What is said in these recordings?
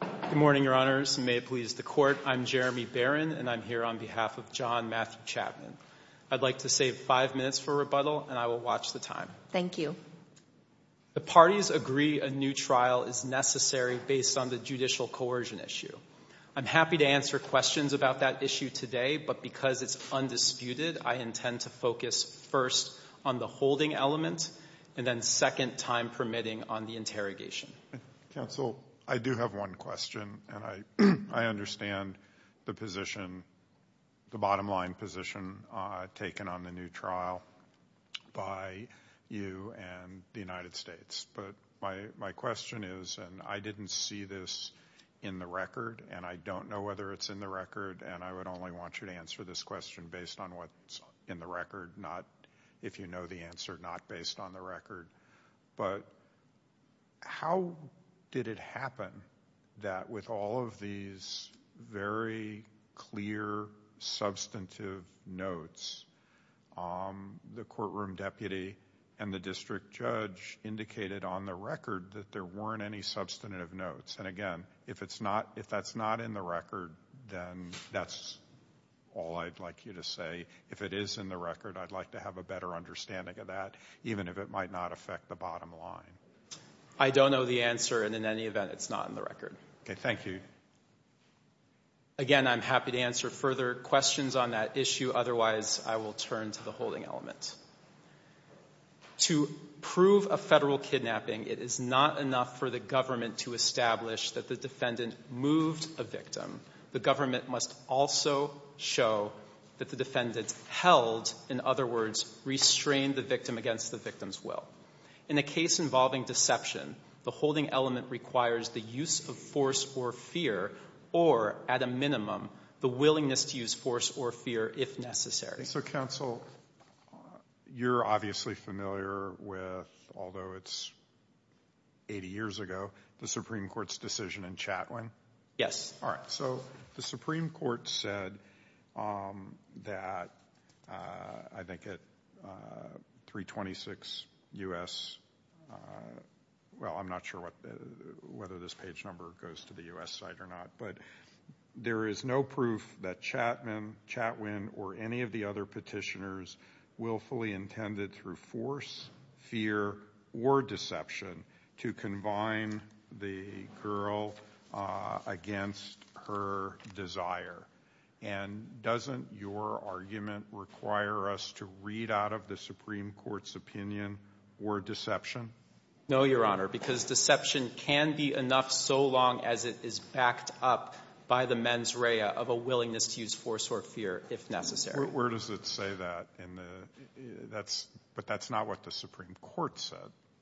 Good morning, Your Honors. May it please the Court, I'm Jeremy Barron, and I'm here on behalf of John Matthew Chapman. I'd like to save five minutes for rebuttal, and I will watch the time. Thank you. The parties agree a new trial is necessary based on the judicial coercion issue. I'm happy to answer questions about that issue today, but because it's undisputed, I intend to focus first on the holding element, and then second, time permitting, on the interrogation. Counsel, I do have one question, and I understand the bottom line position taken on the new trial by you and the United States. But my question is, and I didn't see this in the record, and I don't know whether it's in the record, and I would only want you to answer this question based on what's in the record, not if you know the answer, not based on the record. But how did it happen that with all of these very clear, substantive notes, the courtroom deputy and the district judge indicated on the record that there weren't any substantive notes? And again, if that's not in the record, then that's all I'd like you to say. If it is in the record, I'd like to have a better understanding of that, even if it might not affect the bottom line. I don't know the answer, and in any event, it's not in the record. Okay, thank you. Again, I'm happy to answer further questions on that issue. Otherwise, I will turn to the holding element. To prove a Federal kidnapping, it is not enough for the government to establish that the defendant moved a victim. The government must also show that the defendant held, in other words, restrained the victim against the victim's will. In a case involving deception, the holding element requires the use of force or fear or, at a minimum, the willingness to use force or fear if necessary. So, counsel, you're obviously familiar with, although it's 80 years ago, the Supreme Court's decision in Chatwin. Yes. All right, so the Supreme Court said that, I think at 326 U.S. Well, I'm not sure whether this page number goes to the U.S. side or not, but there is no proof that Chapman, Chatwin, or any of the other Petitioners willfully intended through force, fear, or deception to combine the girl against her desire. And doesn't your argument require us to read out of the Supreme Court's opinion or deception? No, Your Honor, because deception can be enough so long as it is backed up by the mens rea of a willingness to use force or fear if necessary. Where does it say that? But that's not what the Supreme Court said.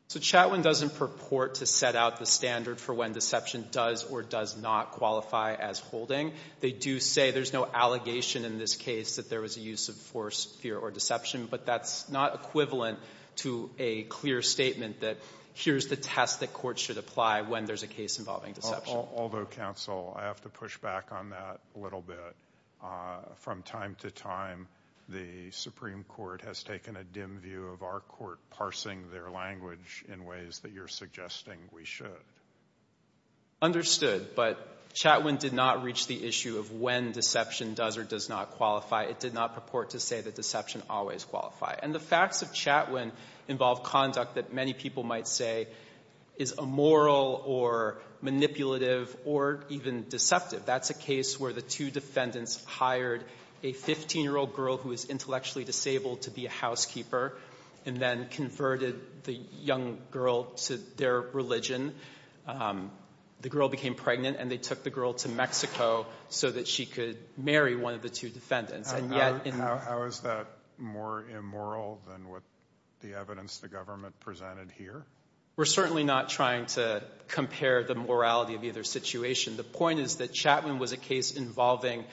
So Chatwin doesn't purport to set out the standard for when deception does or does not qualify as holding. They do say there's no allegation in this case that there was a use of force, fear, or deception, but that's not equivalent to a clear statement that here's the test that courts should apply when there's a case involving deception. Although, counsel, I have to push back on that a little bit. From time to time, the Supreme Court has taken a dim view of our court parsing their language in ways that you're suggesting we should. Understood. But Chatwin did not reach the issue of when deception does or does not qualify. It did not purport to say that deception always qualified. And the facts of Chatwin involve conduct that many people might say is immoral or manipulative or even deceptive. That's a case where the two defendants hired a 15-year-old girl who was intellectually disabled to be a housekeeper and then converted the young girl to their religion. The girl became pregnant, and they took the girl to Mexico so that she could marry one of the two defendants. How is that more immoral than what the evidence the government presented here? We're certainly not trying to compare the morality of either situation. The point is that Chatwin was a case involving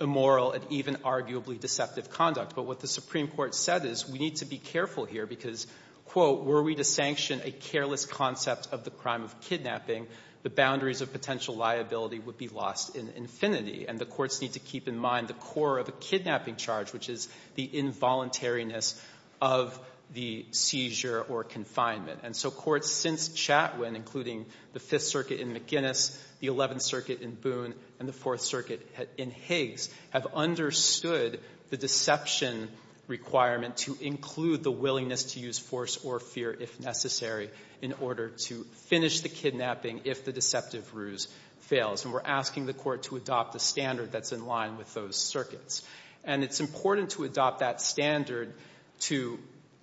immoral and even arguably deceptive conduct. But what the Supreme Court said is we need to be careful here because, quote, were we to sanction a careless concept of the crime of kidnapping, the boundaries of potential liability would be lost in infinity. And the courts need to keep in mind the core of a kidnapping charge, which is the involuntariness of the seizure or confinement. And so courts since Chatwin, including the Fifth Circuit in McGuinness, the Eleventh Circuit in Boone, and the Fourth Circuit in Higgs, have understood the deception requirement to include the willingness to use force or fear if necessary in order to finish the kidnapping if the deceptive ruse fails. And we're asking the court to adopt the standard that's in line with those circuits. And it's important to adopt that standard to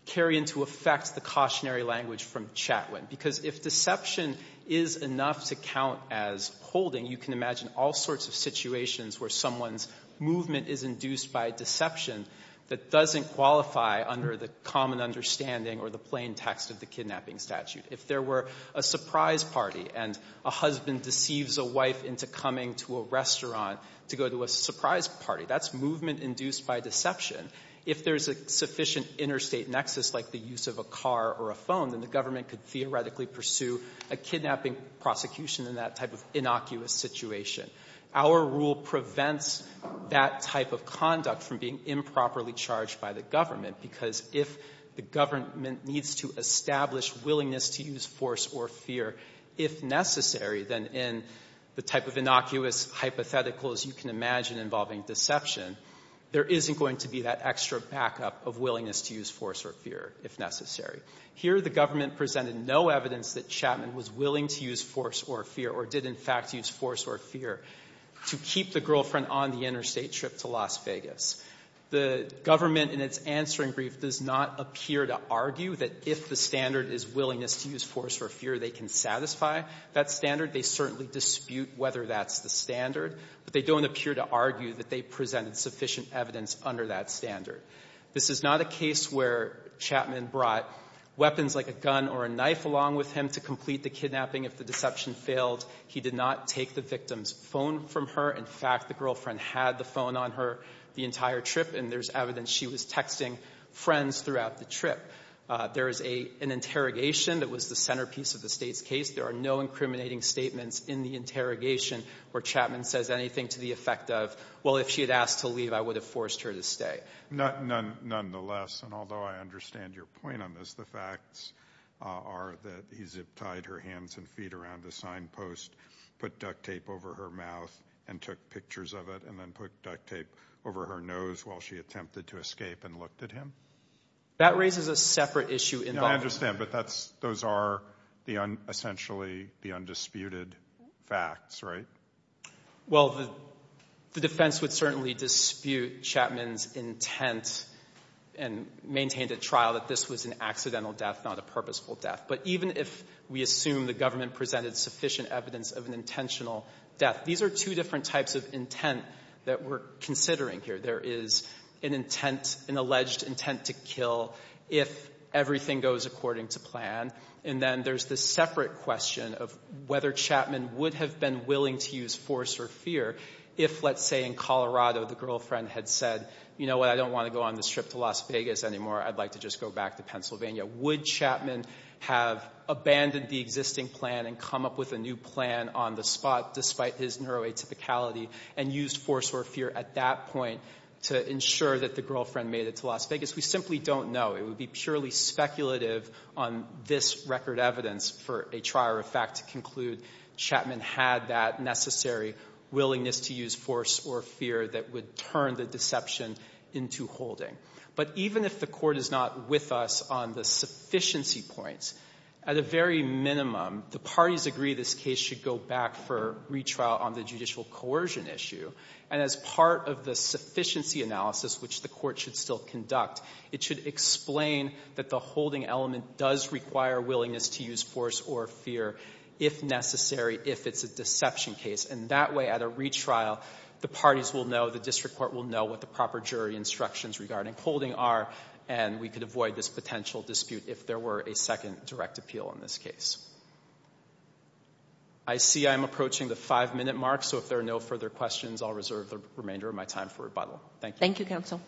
carry into effect the cautionary language from Chatwin because if deception is enough to count as holding, you can imagine all sorts of situations where someone's movement is induced by deception that doesn't qualify under the common understanding or the plain text of the kidnapping statute. If there were a surprise party and a husband deceives a wife into coming to a restaurant to go to a surprise party, that's movement induced by deception. If there's a sufficient interstate nexus like the use of a car or a phone, then the government could theoretically pursue a kidnapping prosecution in that type of innocuous situation. Our rule prevents that type of conduct from being improperly charged by the government because if the government needs to establish willingness to use force or fear if necessary, then in the type of innocuous hypotheticals you can imagine involving deception, there isn't going to be that extra backup of willingness to use force or fear if necessary. Here the government presented no evidence that Chatwin was willing to use force or fear or did in fact use force or fear to keep the girlfriend on the interstate trip to Las Vegas. The government in its answering brief does not appear to argue that if the standard is willingness to use force or fear, they can satisfy that standard. They certainly dispute whether that's the standard, but they don't appear to argue that they presented sufficient evidence under that standard. This is not a case where Chatwin brought weapons like a gun or a knife along with him to complete the kidnapping. If the deception failed, he did not take the victim's phone from her. In fact, the girlfriend had the phone on her the entire trip and there's evidence she was texting friends throughout the trip. There is an interrogation that was the centerpiece of the state's case. There are no incriminating statements in the interrogation where Chatwin says anything to the effect of, well, if she had asked to leave, I would have forced her to stay. Nonetheless, and although I understand your point on this, the facts are that he zip-tied her hands and feet around the signpost, put duct tape over her mouth and took pictures of it, and then put duct tape over her nose while she attempted to escape and looked at him. That raises a separate issue. I understand, but those are essentially the undisputed facts, right? Well, the defense would certainly dispute Chatwin's intent and maintain at trial that this was an accidental death, not a purposeful death. But even if we assume the government presented sufficient evidence of an intentional death, these are two different types of intent that we're considering here. There is an intent, an alleged intent to kill if everything goes according to plan. And then there's the separate question of whether Chatwin would have been willing to use force or fear if, let's say, in Colorado, the girlfriend had said, you know what, I don't want to go on this trip to Las Vegas anymore. I'd like to just go back to Pennsylvania. Would Chatwin have abandoned the existing plan and come up with a new plan on the spot despite his neuroatypicality and used force or fear at that point to ensure that the girlfriend made it to Las Vegas? We simply don't know. It would be purely speculative on this record evidence for a trial or fact to conclude Chatwin had that necessary willingness to use force or fear that would turn the deception into holding. But even if the Court is not with us on the sufficiency points, at a very minimum, the parties agree this case should go back for retrial on the judicial coercion issue. And as part of the sufficiency analysis, which the Court should still conduct, it should explain that the holding element does require willingness to use force or fear if necessary, if it's a deception case. And that way, at a retrial, the parties will know, the district court will know what the proper jury instructions regarding holding are, and we could avoid this potential dispute if there were a second direct appeal in this case. I see I'm approaching the five-minute mark, so if there are no further questions, I'll reserve the remainder of my time for rebuttal. Thank you. Thank you, counsel.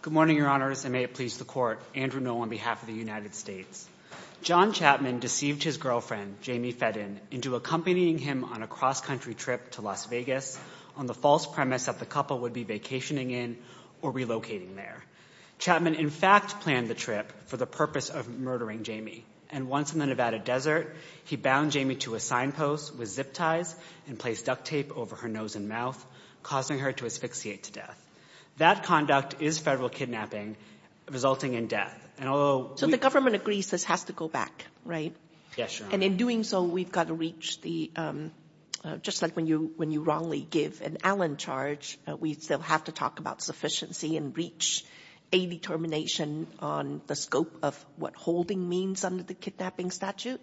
Good morning, Your Honors, and may it please the Court. Andrew Null on behalf of the United States. John Chatwin deceived his girlfriend, Jamie Fedden, into accompanying him on a cross-country trip to Las Vegas on the false premise that the couple would be vacationing in or relocating there. Chatwin, in fact, planned the trip for the purpose of murdering Jamie. And once in the Nevada desert, he bound Jamie to a signpost with zip ties and placed duct tape over her nose and mouth, causing her to asphyxiate to death. That conduct is federal kidnapping, resulting in death. So the government agrees this has to go back, right? Yes, Your Honor. And in doing so, we've got to reach the – just like when you wrongly give an Allen charge, we still have to talk about sufficiency and reach a determination on the scope of what holding means under the kidnapping statute?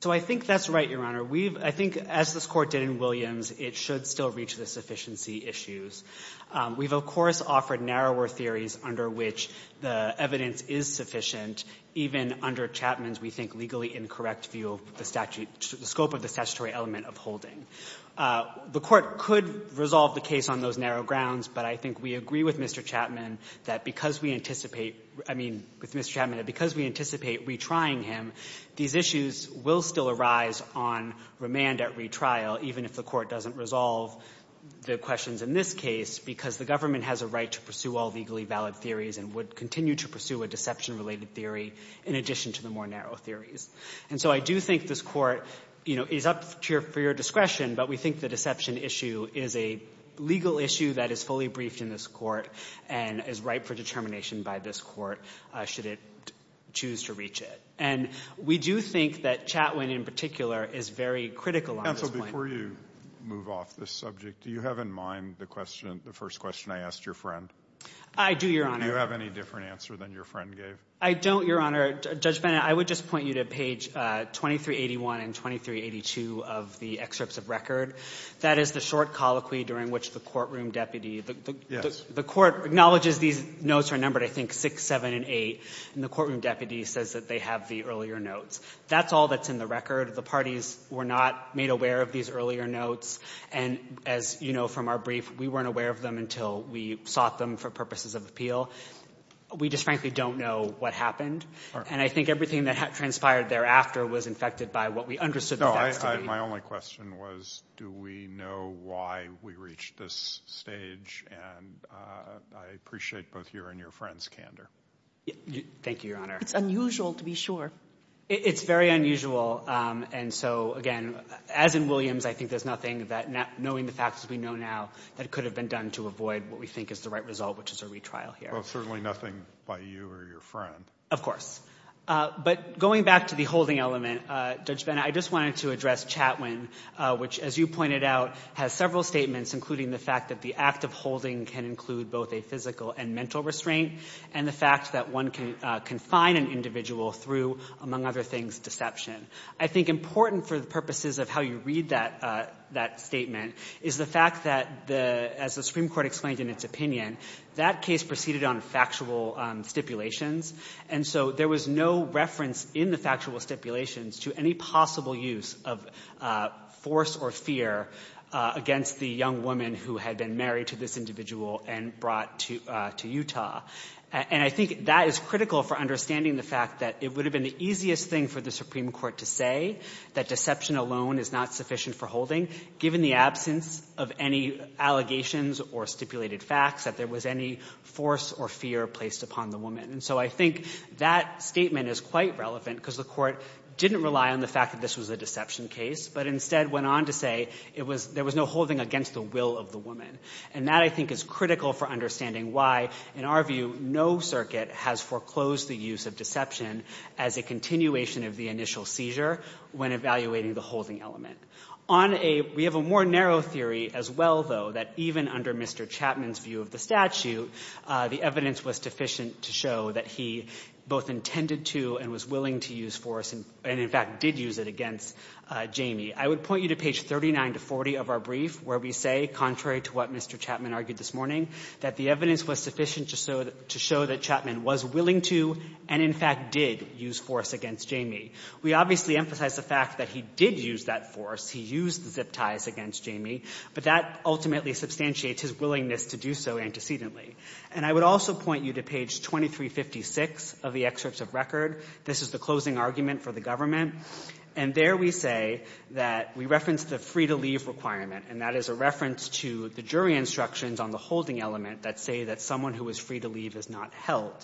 So I think that's right, Your Honor. We've – I think as this Court did in Williams, it should still reach the sufficiency issues. We've, of course, offered narrower theories under which the evidence is sufficient, even under Chatwin's, we think, legally incorrect view of the statute – the scope of the statutory element of holding. The Court could resolve the case on those narrow grounds, but I think we agree with Mr. Chatwin that because we anticipate – I mean, with Mr. Chatwin, that because we anticipate retrying him, these issues will still arise on remand at retrial, even if the Court doesn't resolve the questions in this case, because the government has a right to pursue all legally valid theories and would continue to pursue a deception related theory in addition to the more narrow theories. And so I do think this Court, you know, is up to your – for your discretion, but we think the deception issue is a legal issue that is fully briefed in this Court and is ripe for determination by this Court should it choose to reach it. And we do think that Chatwin in particular is very critical on this point. Counsel, before you move off this subject, do you have in mind the question – the first question I asked your friend? I do, Your Honor. Do you have any different answer than your friend gave? I don't, Your Honor. Judge Bennett, I would just point you to page 2381 and 2382 of the excerpts of record. That is the short colloquy during which the courtroom deputy – The court acknowledges these notes are numbered, I think, 6, 7, and 8. And the courtroom deputy says that they have the earlier notes. That's all that's in the record. The parties were not made aware of these earlier notes. And as you know from our brief, we weren't aware of them until we sought them for purposes of appeal. We just frankly don't know what happened. And I think everything that transpired thereafter was infected by what we understood the facts to be. No, my only question was do we know why we reached this stage? And I appreciate both your and your friend's candor. Thank you, Your Honor. It's unusual to be sure. It's very unusual. And so, again, as in Williams, I think there's nothing that – knowing the facts as we know now, that could have been done to avoid what we think is the right result, which is a retrial here. Well, certainly nothing by you or your friend. Of course. But going back to the holding element, Judge Bennett, I just wanted to address Chatwin, which, as you pointed out, has several statements, including the fact that the act of holding can include both a physical and mental restraint and the fact that one can confine an individual through, among other things, deception. I think important for the purposes of how you read that statement is the fact that, as the Supreme Court explained in its opinion, that case proceeded on factual stipulations, and so there was no reference in the factual stipulations to any possible use of force or fear against the young woman who had been married to this individual and brought to Utah. And I think that is critical for understanding the fact that it would have been the easiest thing for the Supreme Court to say that deception alone is not sufficient for holding, given the absence of any allegations or stipulated facts, that there was any force or fear placed upon the woman. And so I think that statement is quite relevant because the Court didn't rely on the fact that this was a deception case, but instead went on to say it was — there was no holding against the will of the woman. And that, I think, is critical for understanding why, in our view, no circuit has foreclosed the use of deception as a continuation of the initial seizure when evaluating the holding element. On a — we have a more narrow theory as well, though, that even under Mr. Chatwin's view of the statute, the evidence was sufficient to show that he both intended to and was willing to use force and, in fact, did use it against Jamie. I would point you to page 39 to 40 of our brief, where we say, contrary to what Mr. Chatwin argued this morning, that the evidence was sufficient to show that Chatwin was willing to and, in fact, did use force against Jamie. We obviously emphasize the fact that he did use that force. He used the zip ties against Jamie. But that ultimately substantiates his willingness to do so antecedently. And I would also point you to page 2356 of the excerpts of record. This is the closing argument for the government. And there we say that we reference the free-to-leave requirement, and that is a reference to the jury instructions on the holding element that say that someone who is free to leave is not held.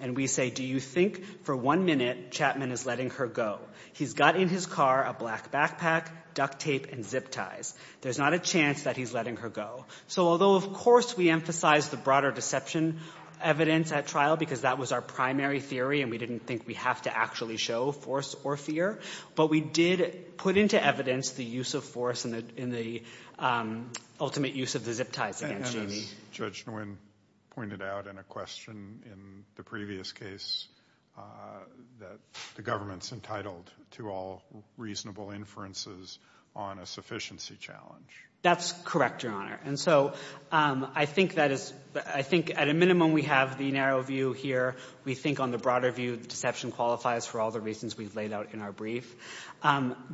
And we say, do you think for one minute Chatwin is letting her go? He's got in his car a black backpack, duct tape, and zip ties. There's not a chance that he's letting her go. So although, of course, we emphasize the broader deception evidence at trial because that was our primary theory and we didn't think we have to actually show force or fear, but we did put into evidence the use of force and the ultimate use of the zip ties against Jamie. And as Judge Nguyen pointed out in a question in the previous case, that the government's entitled to all reasonable inferences on a sufficiency challenge. That's correct, Your Honor. And so I think that is — I think at a minimum we have the narrow view here. We think on the broader view the deception qualifies for all the reasons we've laid out in our brief.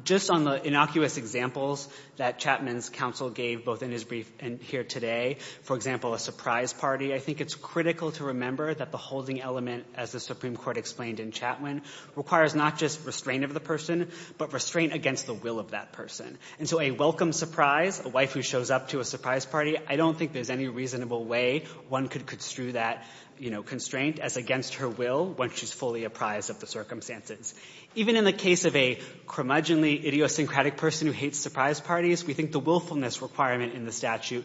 Just on the innocuous examples that Chapman's counsel gave both in his brief and here today, for example, a surprise party, I think it's critical to remember that the holding element, as the Supreme Court explained in Chapman, requires not just restraint of the person, but restraint against the will of that person. And so a welcome surprise, a wife who shows up to a surprise party, I don't think there's any reasonable way one could construe that, you know, constraint as against her will once she's fully apprised of the circumstances. Even in the case of a curmudgeonly idiosyncratic person who hates surprise parties, we think the willfulness requirement in the statute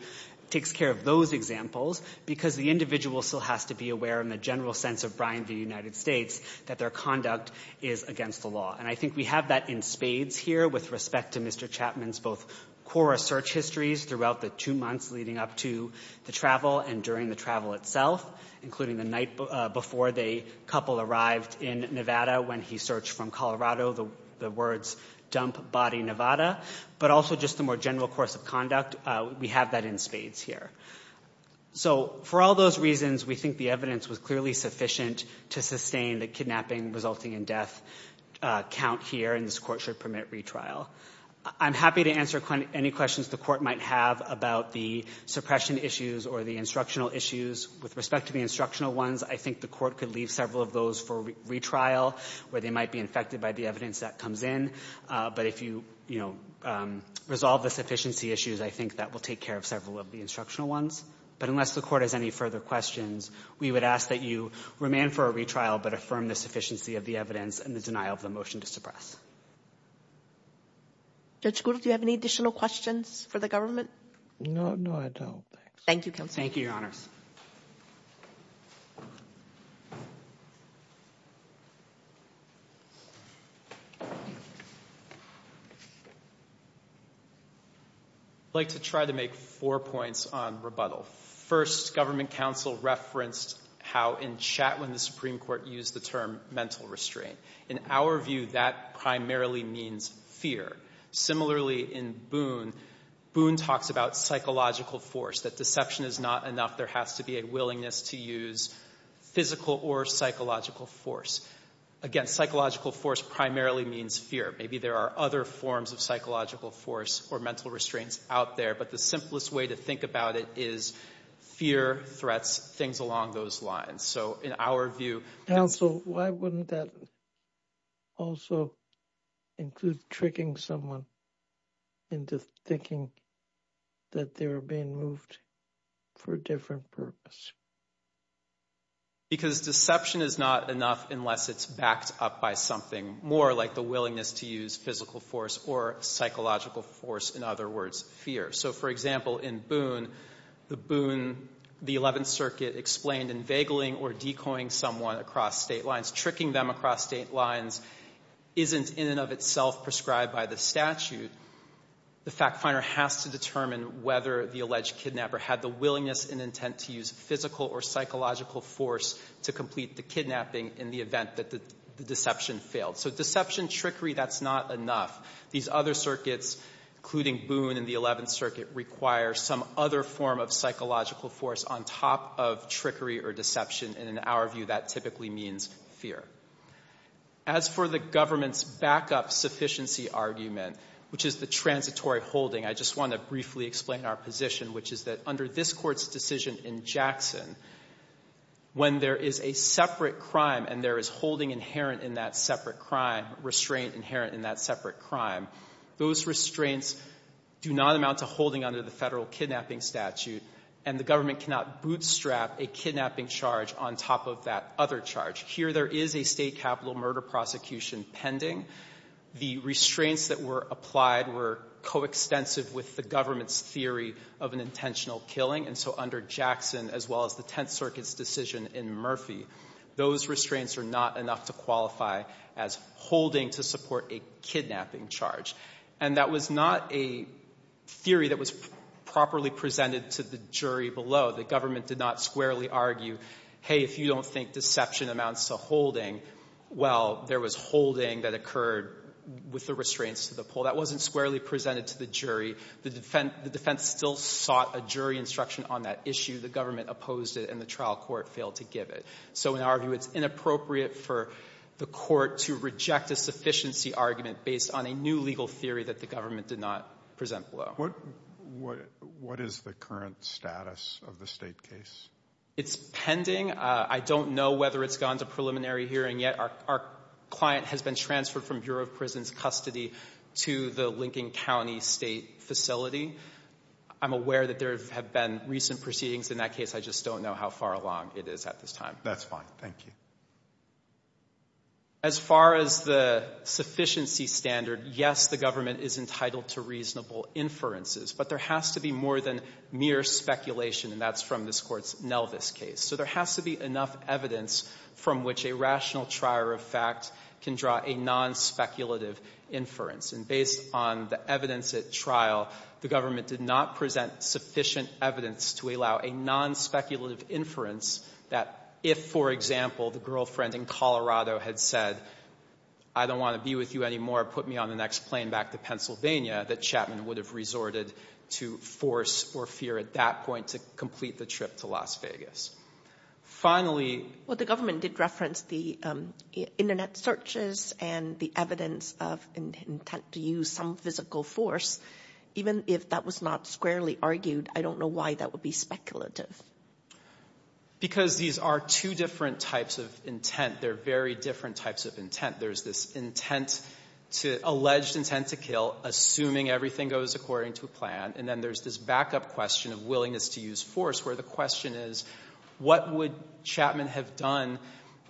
takes care of those examples because the individual still has to be aware in the general sense of Brian v. United States that their conduct is against the law. And I think we have that in spades here with respect to Mr. Chapman's both core search histories throughout the two months leading up to the travel and during the travel itself, including the night before the couple arrived in Nevada when he searched from Colorado, the words, dump body Nevada. But also just the more general course of conduct. We have that in spades here. So for all those reasons, we think the evidence was clearly sufficient to sustain the kidnapping resulting in death count here, and this court should permit retrial. I'm happy to answer any questions the court might have about the suppression issues or the instructional issues. With respect to the instructional ones, I think the court could leave several of those for retrial where they might be infected by the evidence that comes in. But if you resolve the sufficiency issues, I think that will take care of several of the instructional ones. But unless the court has any further questions, we would ask that you remand for a retrial but affirm the sufficiency of the evidence and the denial of the motion to suppress. Judge Gould, do you have any additional questions for the government? No, I don't. Thank you, counsel. Thank you, Your Honors. I'd like to try to make four points on rebuttal. First, government counsel referenced how in Chatwin the Supreme Court used the term mental restraint. In our view, that primarily means fear. Similarly, in Boone, Boone talks about psychological force, that deception is not enough. There has to be a willingness to use physical or psychological force. Again, psychological force primarily means fear. Maybe there are other forms of psychological force or mental restraints out there, but the simplest way to think about it is fear threats things along those lines. So in our view... Counsel, why wouldn't that also include tricking someone into thinking that they were being moved for a different purpose? Because deception is not enough unless it's backed up by something more like the willingness to use physical force or psychological force, in other words, fear. So, for example, in Boone, the Boone, the Eleventh Circuit explained inveigling or decoying someone across state lines, tricking them across state lines isn't in and of itself prescribed by the statute. The fact finder has to determine whether the alleged kidnapper had the willingness and intent to use physical or psychological force to complete the kidnapping in the event that the deception failed. So deception, trickery, that's not enough. These other circuits, including Boone and the Eleventh Circuit, require some other form of psychological force on top of trickery or deception, and in our view, that typically means fear. As for the government's backup sufficiency argument, which is the transitory holding, I just want to briefly explain our position, which is that under this Court's decision in Jackson, when there is a separate crime and there is holding inherent in that separate crime, restraint inherent in that separate crime, those restraints do not amount to holding under the Federal Kidnapping Statute, and the government cannot bootstrap a kidnapping charge on top of that other charge. Here there is a state capital murder prosecution pending. The restraints that were applied were coextensive with the government's theory of an intentional killing, and so under Jackson, as well as the Tenth Circuit's decision in Murphy, those restraints are not enough to qualify as holding to support a kidnapping charge, and that was not a theory that was properly presented to the jury below. The government did not squarely argue, hey, if you don't think deception amounts to holding, well, there was holding that occurred with the restraints to the pool. That wasn't squarely presented to the jury. The defense still sought a jury instruction on that issue. The government opposed it, and the trial court failed to give it. So in our view, it's inappropriate for the court to reject a sufficiency argument based on a new legal theory that the government did not present below. What is the current status of the state case? It's pending. I don't know whether it's gone to preliminary hearing yet. Our client has been transferred from Bureau of Prisons Custody to the Lincoln County State Facility. I'm aware that there have been recent proceedings in that case. I just don't know how far along it is at this time. That's fine. Thank you. As far as the sufficiency standard, yes, the government is entitled to reasonable inferences, but there has to be more than mere speculation, and that's from this Court's Nelvis case. So there has to be enough evidence from which a rational trier of fact can draw a nonspeculative inference. And based on the evidence at trial, the government did not present sufficient evidence to allow a nonspeculative inference that if, for example, the girlfriend in Colorado had said, I don't want to be with you anymore, put me on the next plane back to Pennsylvania, that Chapman would have resorted to force or fear at that point to complete the trip to Las Vegas. Finally — Well, the government did reference the Internet searches and the evidence of intent to use some physical force. Even if that was not squarely argued, I don't know why that would be speculative. Because these are two different types of intent. They're very different types of intent. There's this intent to — alleged intent to kill, assuming everything goes according to plan. And then there's this backup question of willingness to use force, where the question is, what would Chapman have done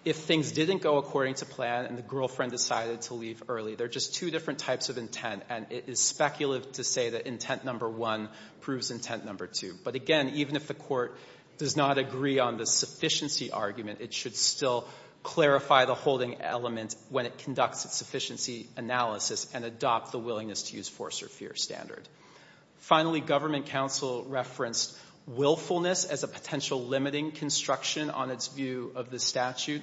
if things didn't go according to plan and the girlfriend decided to leave early? They're just two different types of intent, and it is speculative to say that intent number one proves intent number two. But again, even if the Court does not agree on the sufficiency argument, it should still clarify the holding element when it conducts its sufficiency analysis and adopt the willingness to use force or fear standard. Finally, government counsel referenced willfulness as a potential limiting construction on its view of the statute.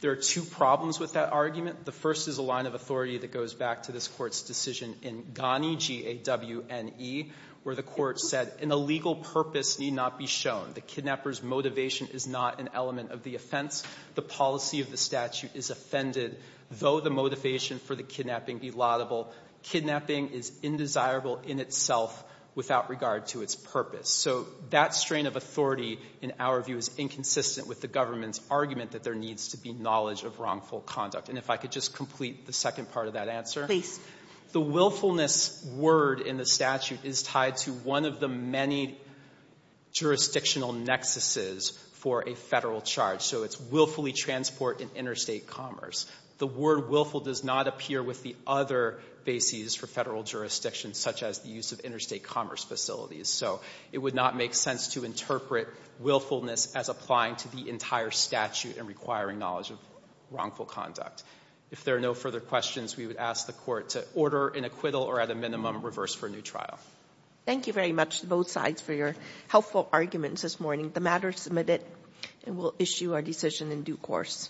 There are two problems with that argument. The first is a line of authority that goes back to this Court's decision in Gani, G-A-W-N-E, where the Court said, an illegal purpose need not be shown. The kidnapper's motivation is not an element of the offense. The policy of the statute is offended, though the motivation for the kidnapping be laudable. Kidnapping is indesirable in itself without regard to its purpose. So that strain of authority, in our view, is inconsistent with the government's argument that there needs to be knowledge of wrongful conduct. And if I could just complete the second part of that answer. Please. The willfulness word in the statute is tied to one of the many jurisdictional nexuses for a Federal charge. So it's willfully transport in interstate commerce. The word willful does not appear with the other bases for Federal jurisdiction, such as the use of interstate commerce facilities. So it would not make sense to interpret willfulness as applying to the entire statute and requiring knowledge of wrongful conduct. If there are no further questions, we would ask the Court to order an acquittal or, at a minimum, reverse for a new trial. Thank you very much to both sides for your helpful arguments this morning. The matter is submitted and we'll issue our decision in due course.